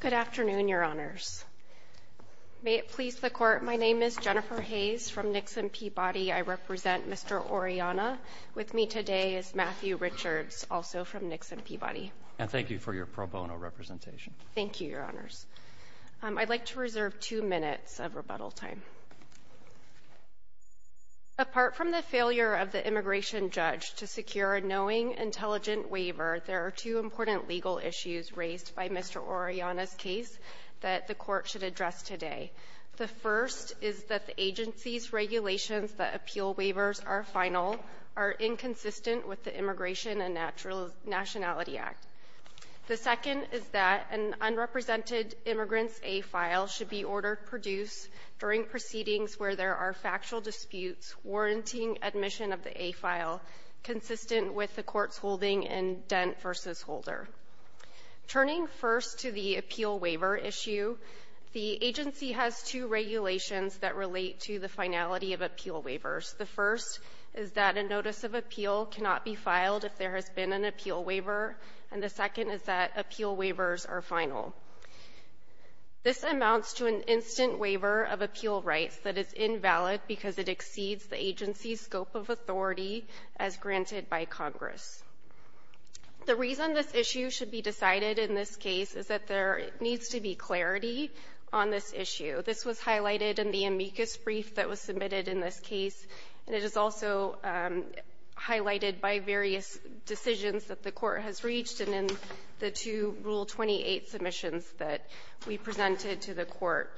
Good afternoon, Your Honors. May it please the Court, my name is Jennifer Hayes from Nixon Peabody. I represent Mr. Orellana. With me today is Matthew Richards, also from Nixon Peabody. And thank you for your pro bono representation. Thank you, Your Honors. I'd like to reserve two minutes of rebuttal time. Apart from the failure of the immigration judge to secure a knowing, intelligent waiver, there are two important legal issues raised by Mr. Orellana's case that the Court should address today. The first is that the agency's regulations that appeal waivers are final are inconsistent with the Immigration and Nationality Act. The second is that an unrepresented immigrant's A file should be ordered to produce during proceedings where there are factual disputes warranting admission of the A file consistent with the Court's holding in Dent v. Holder. Turning first to the appeal waiver issue, the agency has two regulations that relate to the finality of appeal waivers. The first is that a notice of appeal cannot be filed if there has been an appeal waiver, and the second is that appeal waivers are final. This amounts to an agency's scope of authority as granted by Congress. The reason this issue should be decided in this case is that there needs to be clarity on this issue. This was highlighted in the amicus brief that was submitted in this case, and it is also highlighted by various decisions that the Court has reached in the two Rule 28 submissions that we presented to the Court.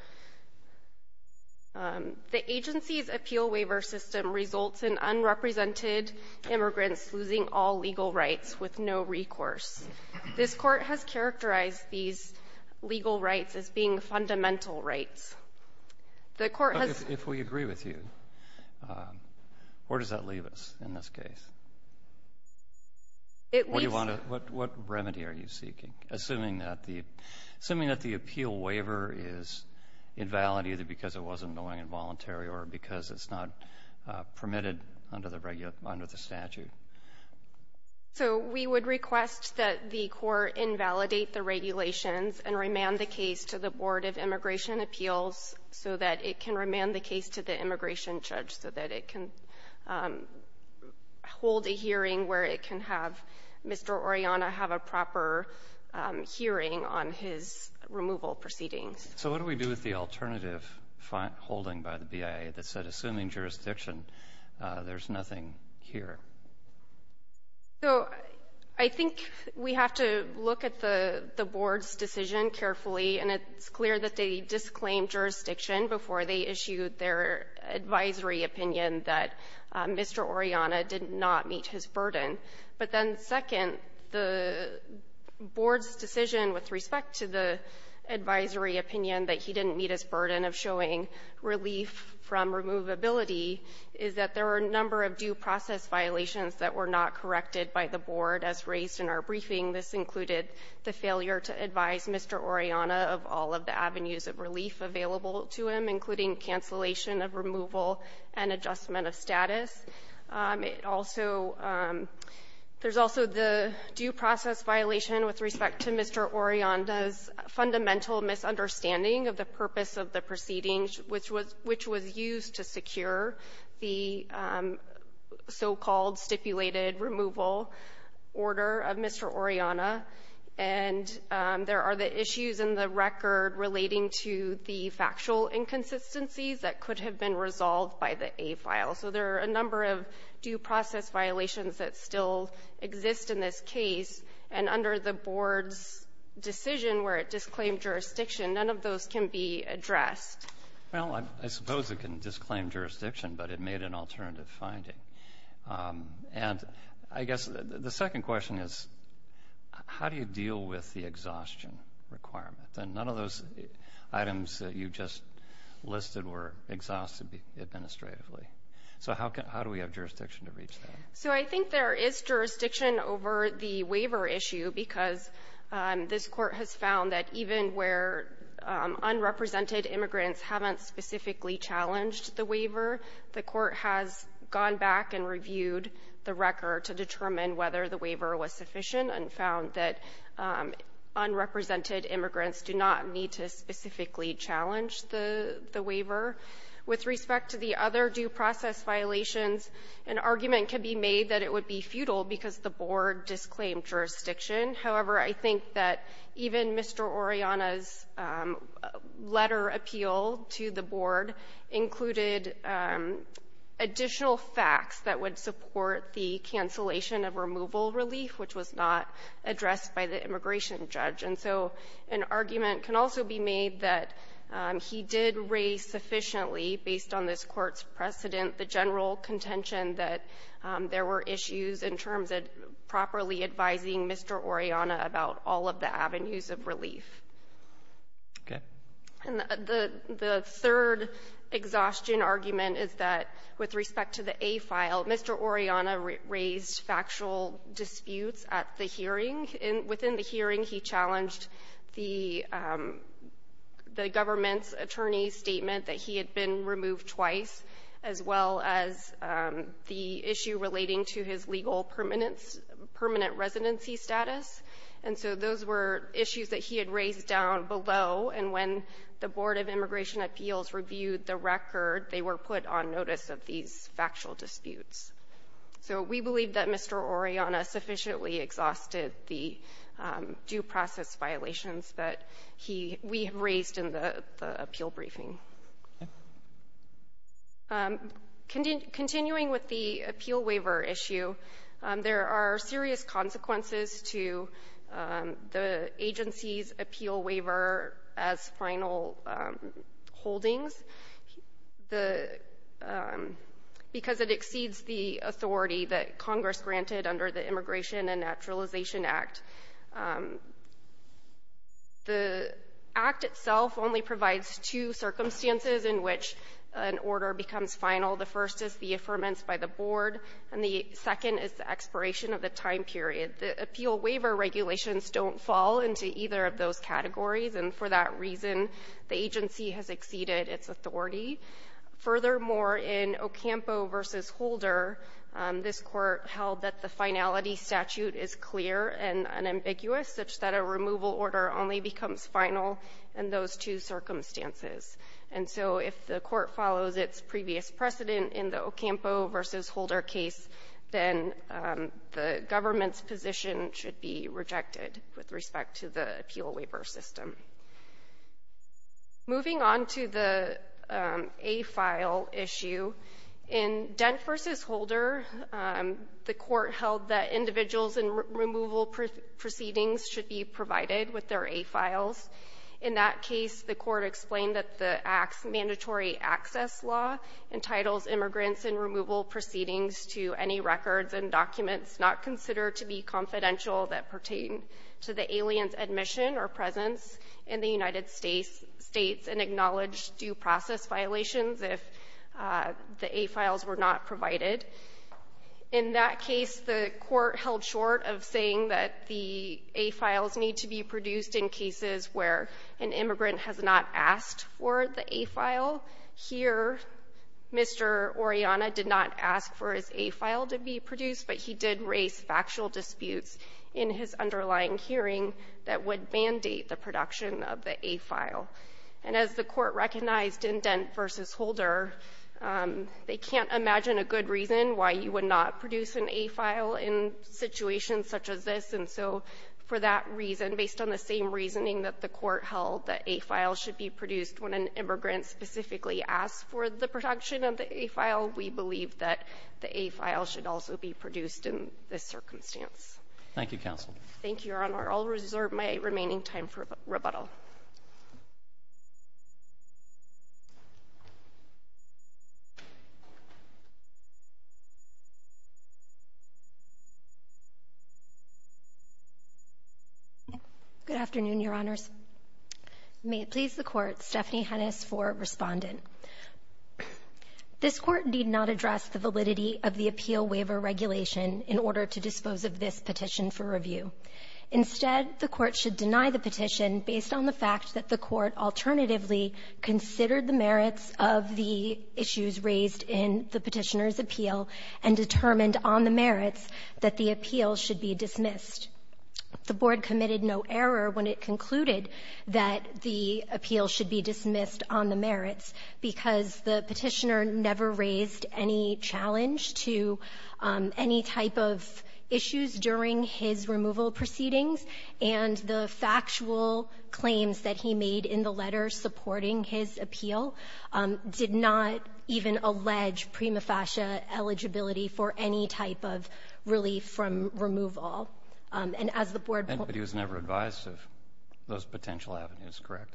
The agency's appeal waiver system results in unrepresented immigrants losing all legal rights with no recourse. This Court has characterized these legal rights as being fundamental rights. The Court has ---- Breyer, if we agree with you, where does that leave us in this case? It leaves ---- What do you want to ---- what remedy are you seeking, assuming that the appeal waiver is invalid either because it wasn't going involuntary or because it's not permitted under the statute? So we would request that the Court invalidate the regulations and remand the case to the Board of Immigration Appeals so that it can remand the case to the immigration judge, so that it can hold a hearing where it can have Mr. Oriana have a proper hearing on his removal proceedings. So what do we do with the alternative holding by the BIA that said, assuming jurisdiction, there's nothing here? So I think we have to look at the Board's decision carefully, and it's clear that they that Mr. Oriana did not meet his burden. But then, second, the Board's decision with respect to the advisory opinion that he didn't meet his burden of showing relief from removability is that there are a number of due process violations that were not corrected by the Board as raised in our briefing. This included the failure to advise Mr. Oriana of all of the avenues of relief available to him, including cancellation of removal and adjustment of status. It also — there's also the due process violation with respect to Mr. Oriana's fundamental misunderstanding of the purpose of the proceedings, which was — which was used to secure the so-called stipulated removal order of Mr. Oriana. And there are the issues in the record relating to the factual inconsistencies that could have been resolved by the A-file. So there are a number of due process violations that still exist in this case. And under the Board's decision where it disclaimed jurisdiction, none of those can be addressed. Well, I suppose it can disclaim jurisdiction, but it made an alternative finding. And I guess the second question is, how do you deal with the exhaustion requirement? And none of those items that you just listed were exhausted administratively. So how do we have jurisdiction to reach that? So I think there is jurisdiction over the waiver issue because this Court has found that even where unrepresented immigrants haven't specifically challenged the waiver, the Court has gone back and reviewed the record to determine whether the waiver was sufficient and found that unrepresented immigrants do not need to specifically challenge the waiver. With respect to the other due process violations, an argument can be made that it would be futile because the Board disclaimed jurisdiction. However, I think that even Mr. Oriana's letter appeal to the Board included additional facts that would support the cancellation of removal relief, which was not addressed by the immigration judge. And so an argument can also be made that he did raise sufficiently, based on this Court's precedent, the general contention that there were issues in terms of properly advising Mr. Oriana about all of the avenues of relief. Okay. And the third exhaustion argument is that with respect to the A file, Mr. Oriana raised factual disputes at the hearing. Within the hearing, he challenged the government's attorney's statement that he had been removed twice, as well as the issue relating to his legal permanence permanent residency status. And so those were issues that he had raised down below. And when the Board of Immigration Appeals reviewed the record, they were put on notice of these factual disputes. So we believe that Mr. Oriana sufficiently exhausted the due process violations that he we have raised in the appeal briefing. Continuing with the appeal waiver issue, there are serious consequences to the agency's appeal waiver as final holdings. The — because it exceeds the authority that Congress granted under the Immigration and Naturalization Act. The Act itself only provides two circumstances in which an order becomes final. The first is the affirmance by the Board, and the second is the expiration of the time period. The appeal waiver regulations don't fall into either of those categories, and for that reason, the agency has exceeded its authority. Furthermore, in Ocampo v. Holder, this Court held that the finality statute is clear. And unambiguous, such that a removal order only becomes final in those two circumstances. And so if the Court follows its previous precedent in the Ocampo v. Holder case, then the government's position should be rejected with respect to the appeal waiver system. Moving on to the A file issue, in Dent v. Holder, the Court held that individuals whose immigration removal proceedings should be provided with their A files. In that case, the Court explained that the Act's Mandatory Access Law entitles immigrants in removal proceedings to any records and documents not considered to be confidential that pertain to the alien's admission or presence in the United States and acknowledge due process violations if the A files were not provided. In that case, the Court held short of saying that the A files need to be produced in cases where an immigrant has not asked for the A file. Here, Mr. Orellana did not ask for his A file to be produced, but he did raise factual disputes in his underlying hearing that would mandate the production of the A file. And as the Court recognized in Dent v. Holder, they can't imagine a good reason why you would not produce an A file in situations such as this. And so for that reason, based on the same reasoning that the Court held, that A files should be produced when an immigrant specifically asks for the production of the A file, we believe that the A file should also be produced in this circumstance. Roberts. Thank you, counsel. Orellana. Thank you, Your Honor. I'll reserve my remaining time for rebuttal. Good afternoon, Your Honors. May it please the Court, Stephanie Hennis for Respondent. This Court did not address the validity of the appeal waiver regulation in order to dispose of this petition for review. Instead, the Court should deny the petition based on the fact that the Court alternatively considered the merits of the issues raised in the Petitioner's appeal and determined on the merits that the appeal should be dismissed. The Board committed no error when it concluded that the appeal should be dismissed based on the merits, because the Petitioner never raised any challenge to any type of issues during his removal proceedings, and the factual claims that he made in the letter supporting his appeal did not even allege prima facie eligibility for any type of relief from removal. And as the Board pointed out to the Court, the Petitioner was never advised of those potential avenues, correct?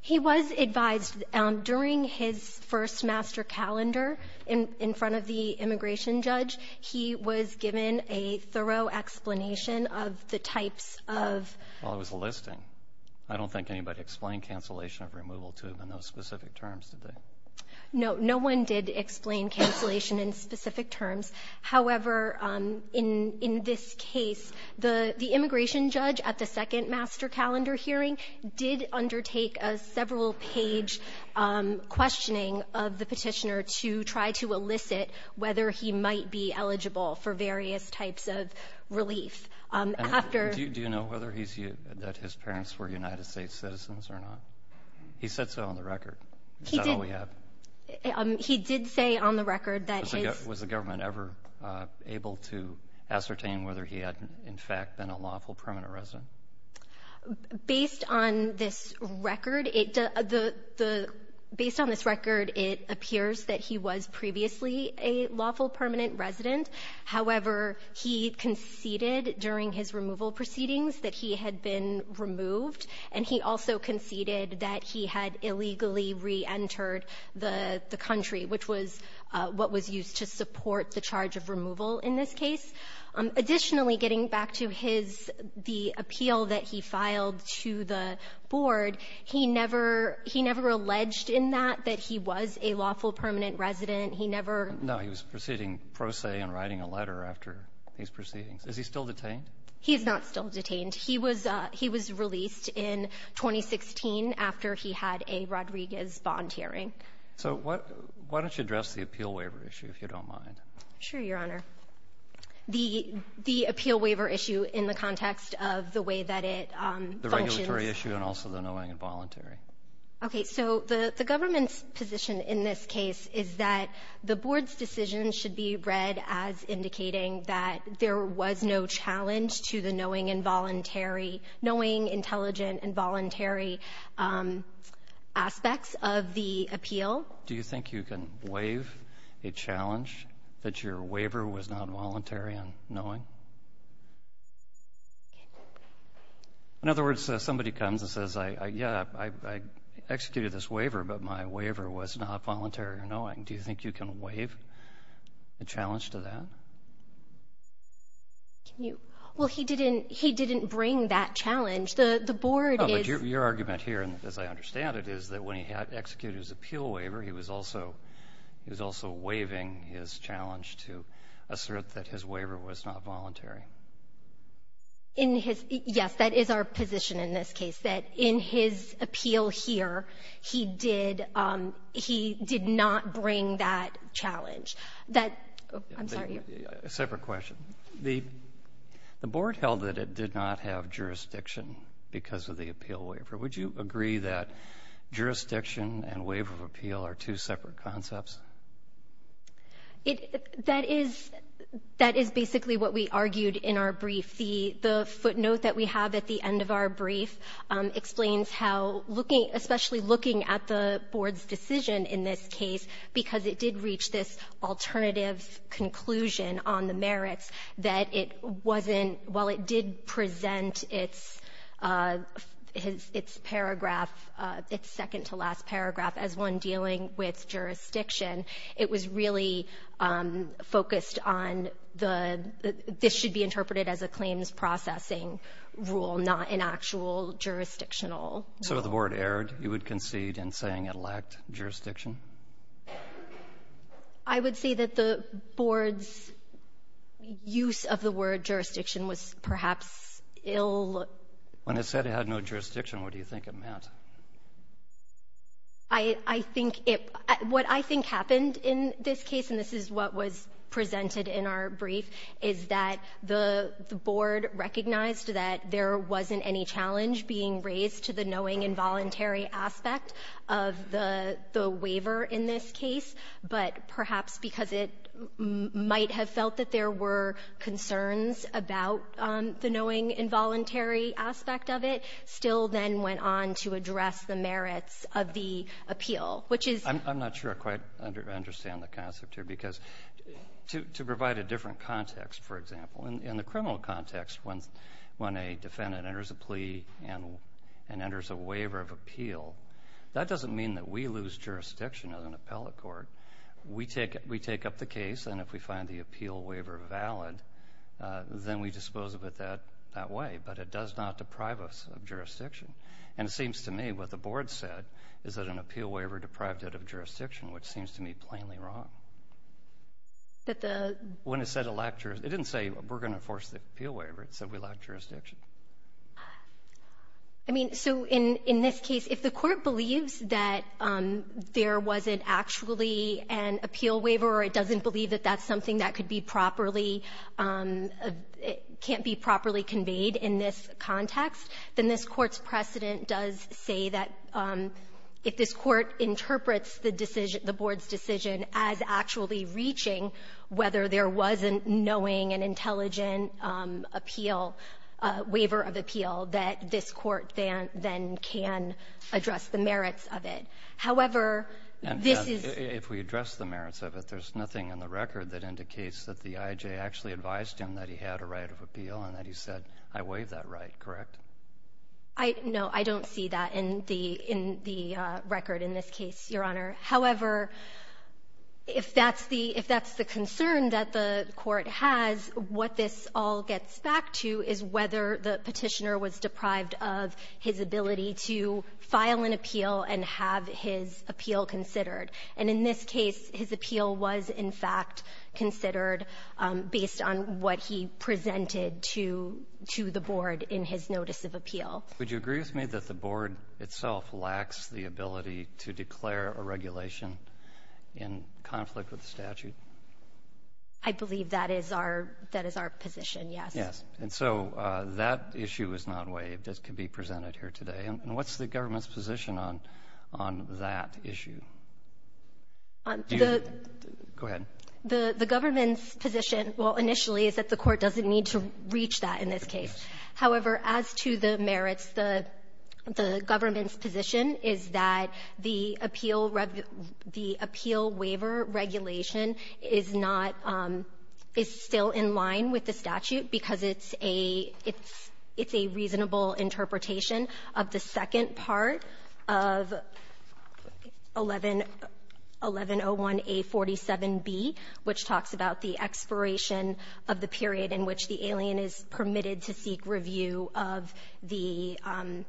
He was advised during his first master calendar in front of the immigration judge. He was given a thorough explanation of the types of ---- Well, it was a listing. I don't think anybody explained cancellation of removal to him in those specific terms, did they? No. No one did explain cancellation in specific terms. However, in this case, the immigration judge at the second master calendar hearing did undertake a several-page questioning of the Petitioner to try to elicit whether he might be eligible for various types of relief. After ---- And do you know whether he's used or that his parents were United States citizens or not? He said so on the record. Is that all we have? He did say on the record that his ---- Was the government ever able to ascertain whether he had, in fact, been a lawful permanent resident? Based on this record, it ---- the ---- based on this record, it appears that he was previously a lawful permanent resident. However, he conceded during his removal proceedings that he had been removed, and he also conceded that he had illegally reentered the country, which was what was used to support the charge of removal in this case. Additionally, getting back to his ---- the appeal that he filed to the board, he never ---- he never alleged in that that he was a lawful permanent resident. He never ---- No. He was proceeding pro se and writing a letter after these proceedings. Is he still detained? He is not still detained. He was ---- he was released in 2016 after he had a Rodriguez bond hearing. So what ---- why don't you address the appeal waiver issue, if you don't mind? Sure, Your Honor. The ---- the appeal waiver issue in the context of the way that it functions. The regulatory issue and also the knowing and voluntary. Okay. So the government's position in this case is that the board's decision should be read as indicating that there was no challenge to the knowing and voluntary ---- knowing, intelligent, and voluntary aspects of the appeal. Do you think you can waive a challenge that your waiver was not voluntary and knowing? Okay. In other words, somebody comes and says, I ---- yeah, I ---- I executed this waiver, but my waiver was not voluntary or knowing. Do you think you can waive a challenge to that? Can you ---- well, he didn't ---- he didn't bring that challenge. The board is ---- Oh, but your argument here, as I understand it, is that when he had executed his appeal waiver, he was also ---- he was also waiving his challenge to assert that his waiver was not voluntary. In his ---- yes, that is our position in this case, that in his appeal here, he did ---- he did not bring that challenge. That ---- I'm sorry. A separate question. The board held that it did not have jurisdiction because of the appeal waiver. Would you agree that jurisdiction and waiver of appeal are two separate concepts? It ---- that is ---- that is basically what we argued in our brief. The footnote that we have at the end of our brief explains how looking ---- especially looking at the board's decision in this case, because it did reach this alternative conclusion on the merits, that it wasn't ---- while it did present its paragraph, its second-to-last paragraph as one dealing with jurisdiction, it was really focused on the ---- this should be interpreted as a claims processing rule, not an actual jurisdictional. So the board erred, you would concede, in saying it lacked jurisdiction? I would say that the board's use of the word jurisdiction was perhaps ill ---- When it said it had no jurisdiction, what do you think it meant? I think it ---- what I think happened in this case, and this is what was presented in our brief, is that the board recognized that there wasn't any challenge being the waiver in this case, but perhaps because it might have felt that there were concerns about the knowing involuntary aspect of it, still then went on to address the merits of the appeal, which is ---- I'm not sure I quite understand the concept here, because to provide a different context, for example, in the criminal context, when a defendant enters a plea and that doesn't mean that we lose jurisdiction as an appellate court. We take up the case, and if we find the appeal waiver valid, then we dispose of it that way. But it does not deprive us of jurisdiction. And it seems to me what the board said is that an appeal waiver deprived it of jurisdiction, which seems to me plainly wrong. But the ---- When it said it lacked jurisdiction, it didn't say we're going to enforce the appeal waiver. It said we lacked jurisdiction. I mean, so in this case, if the Court believes that there wasn't actually an appeal waiver or it doesn't believe that that's something that could be properly ---- can't be properly conveyed in this context, then this Court's precedent does say that if this Court interprets the decision, the board's decision, as actually reaching whether there was a knowing and intelligent appeal, waiver of appeal, that this Court then can address the merits of it. However, this is ---- And if we address the merits of it, there's nothing in the record that indicates that the I.J. actually advised him that he had a right of appeal and that he said, I waive that right, correct? No. I don't see that in the record in this case, Your Honor. However, if that's the ---- if that's the concern that the Court has, what this all gets back to is whether the Petitioner was deprived of his ability to file an appeal and have his appeal considered. And in this case, his appeal was, in fact, considered based on what he presented Would you agree with me that the board itself lacks the ability to declare a regulation in conflict with the statute? I believe that is our ---- that is our position, yes. Yes. And so that issue is not waived as can be presented here today. And what's the government's position on that issue? The ---- Go ahead. The government's position, well, initially, is that the Court doesn't need to reach that in this case. However, as to the merits, the government's position is that the appeal ---- the appeal waiver regulation is not ---- is still in line with the statute because it's a ---- it's a reasonable interpretation of the second part of 11 ---- 1101A47B, which talks about the expiration of the period in which the alien is permitted to seek review of the ----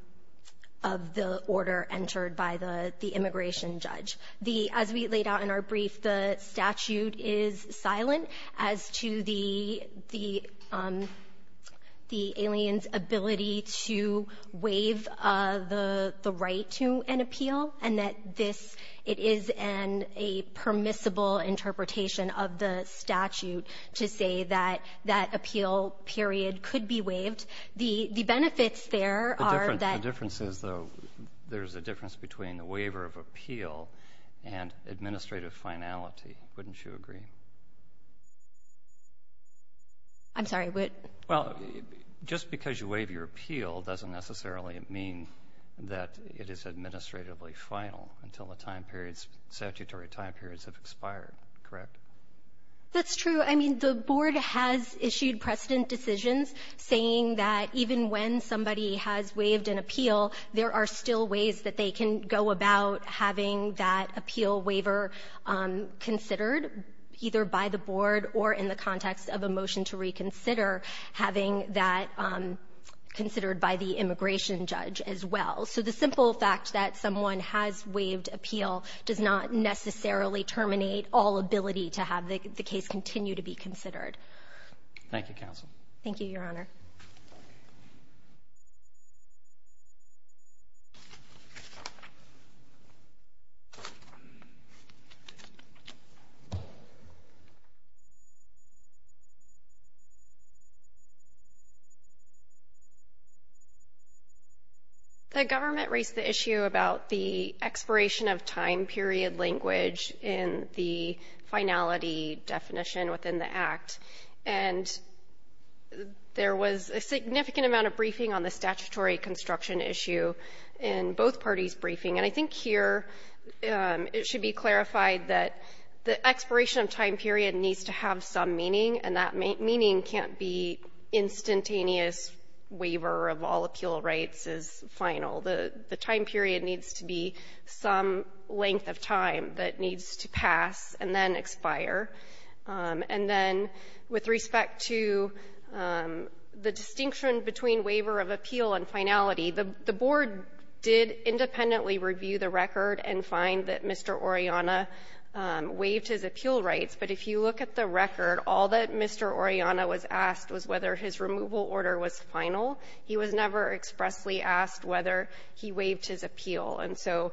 of the order entered by the immigration judge. The ---- as we laid out in our brief, the statute is silent as to the ---- the alien's ability to waive the right to an appeal and that this ---- it is an ---- a permissible interpretation of the statute to say that that appeal period could be waived. The benefits there are that ---- The difference is, though, there's a difference between the waiver of appeal and administrative finality. Wouldn't you agree? I'm sorry. Well, just because you waive your appeal doesn't necessarily mean that it is administratively expired, correct? That's true. I mean, the Board has issued precedent decisions saying that even when somebody has waived an appeal, there are still ways that they can go about having that appeal waiver considered, either by the Board or in the context of a motion to reconsider, having that considered by the immigration judge as well. So the simple fact that someone has waived appeal does not necessarily terminate all ability to have the case continue to be considered. Thank you, counsel. Thank you, Your Honor. The government raised the issue about the expiration of time period language in the finality definition within the Act. And there was a significant amount of briefing on the statutory construction issue in both parties' briefing. And I think here it should be clarified that the expiration of time period needs to have some meaning, and that meaning can't be instantaneous waiver of all appeal rights is final. The time period needs to be some length of time that needs to pass and then expire. And then with respect to the distinction between waiver of appeal and finality, the Board did independently review the record and find that Mr. Oriana waived his appeal rights. But if you look at the record, all that Mr. Oriana was asked was whether his removal order was final. He was never expressly asked whether he waived his appeal. And so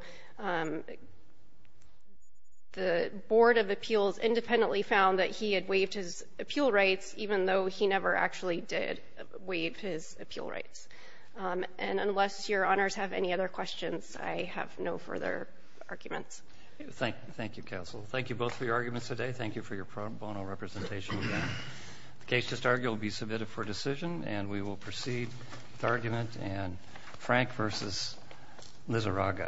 the Board of Appeals independently found that he had waived his appeal rights, even though he never actually did waive his appeal rights. And unless Your Honors have any other questions, I have no further arguments. Thank you, counsel. Thank you both for your arguments today. Thank you for your bono representation. The case just argued will be submitted for decision, and we will proceed with argument in Frank v. Lizarraga. Thank you.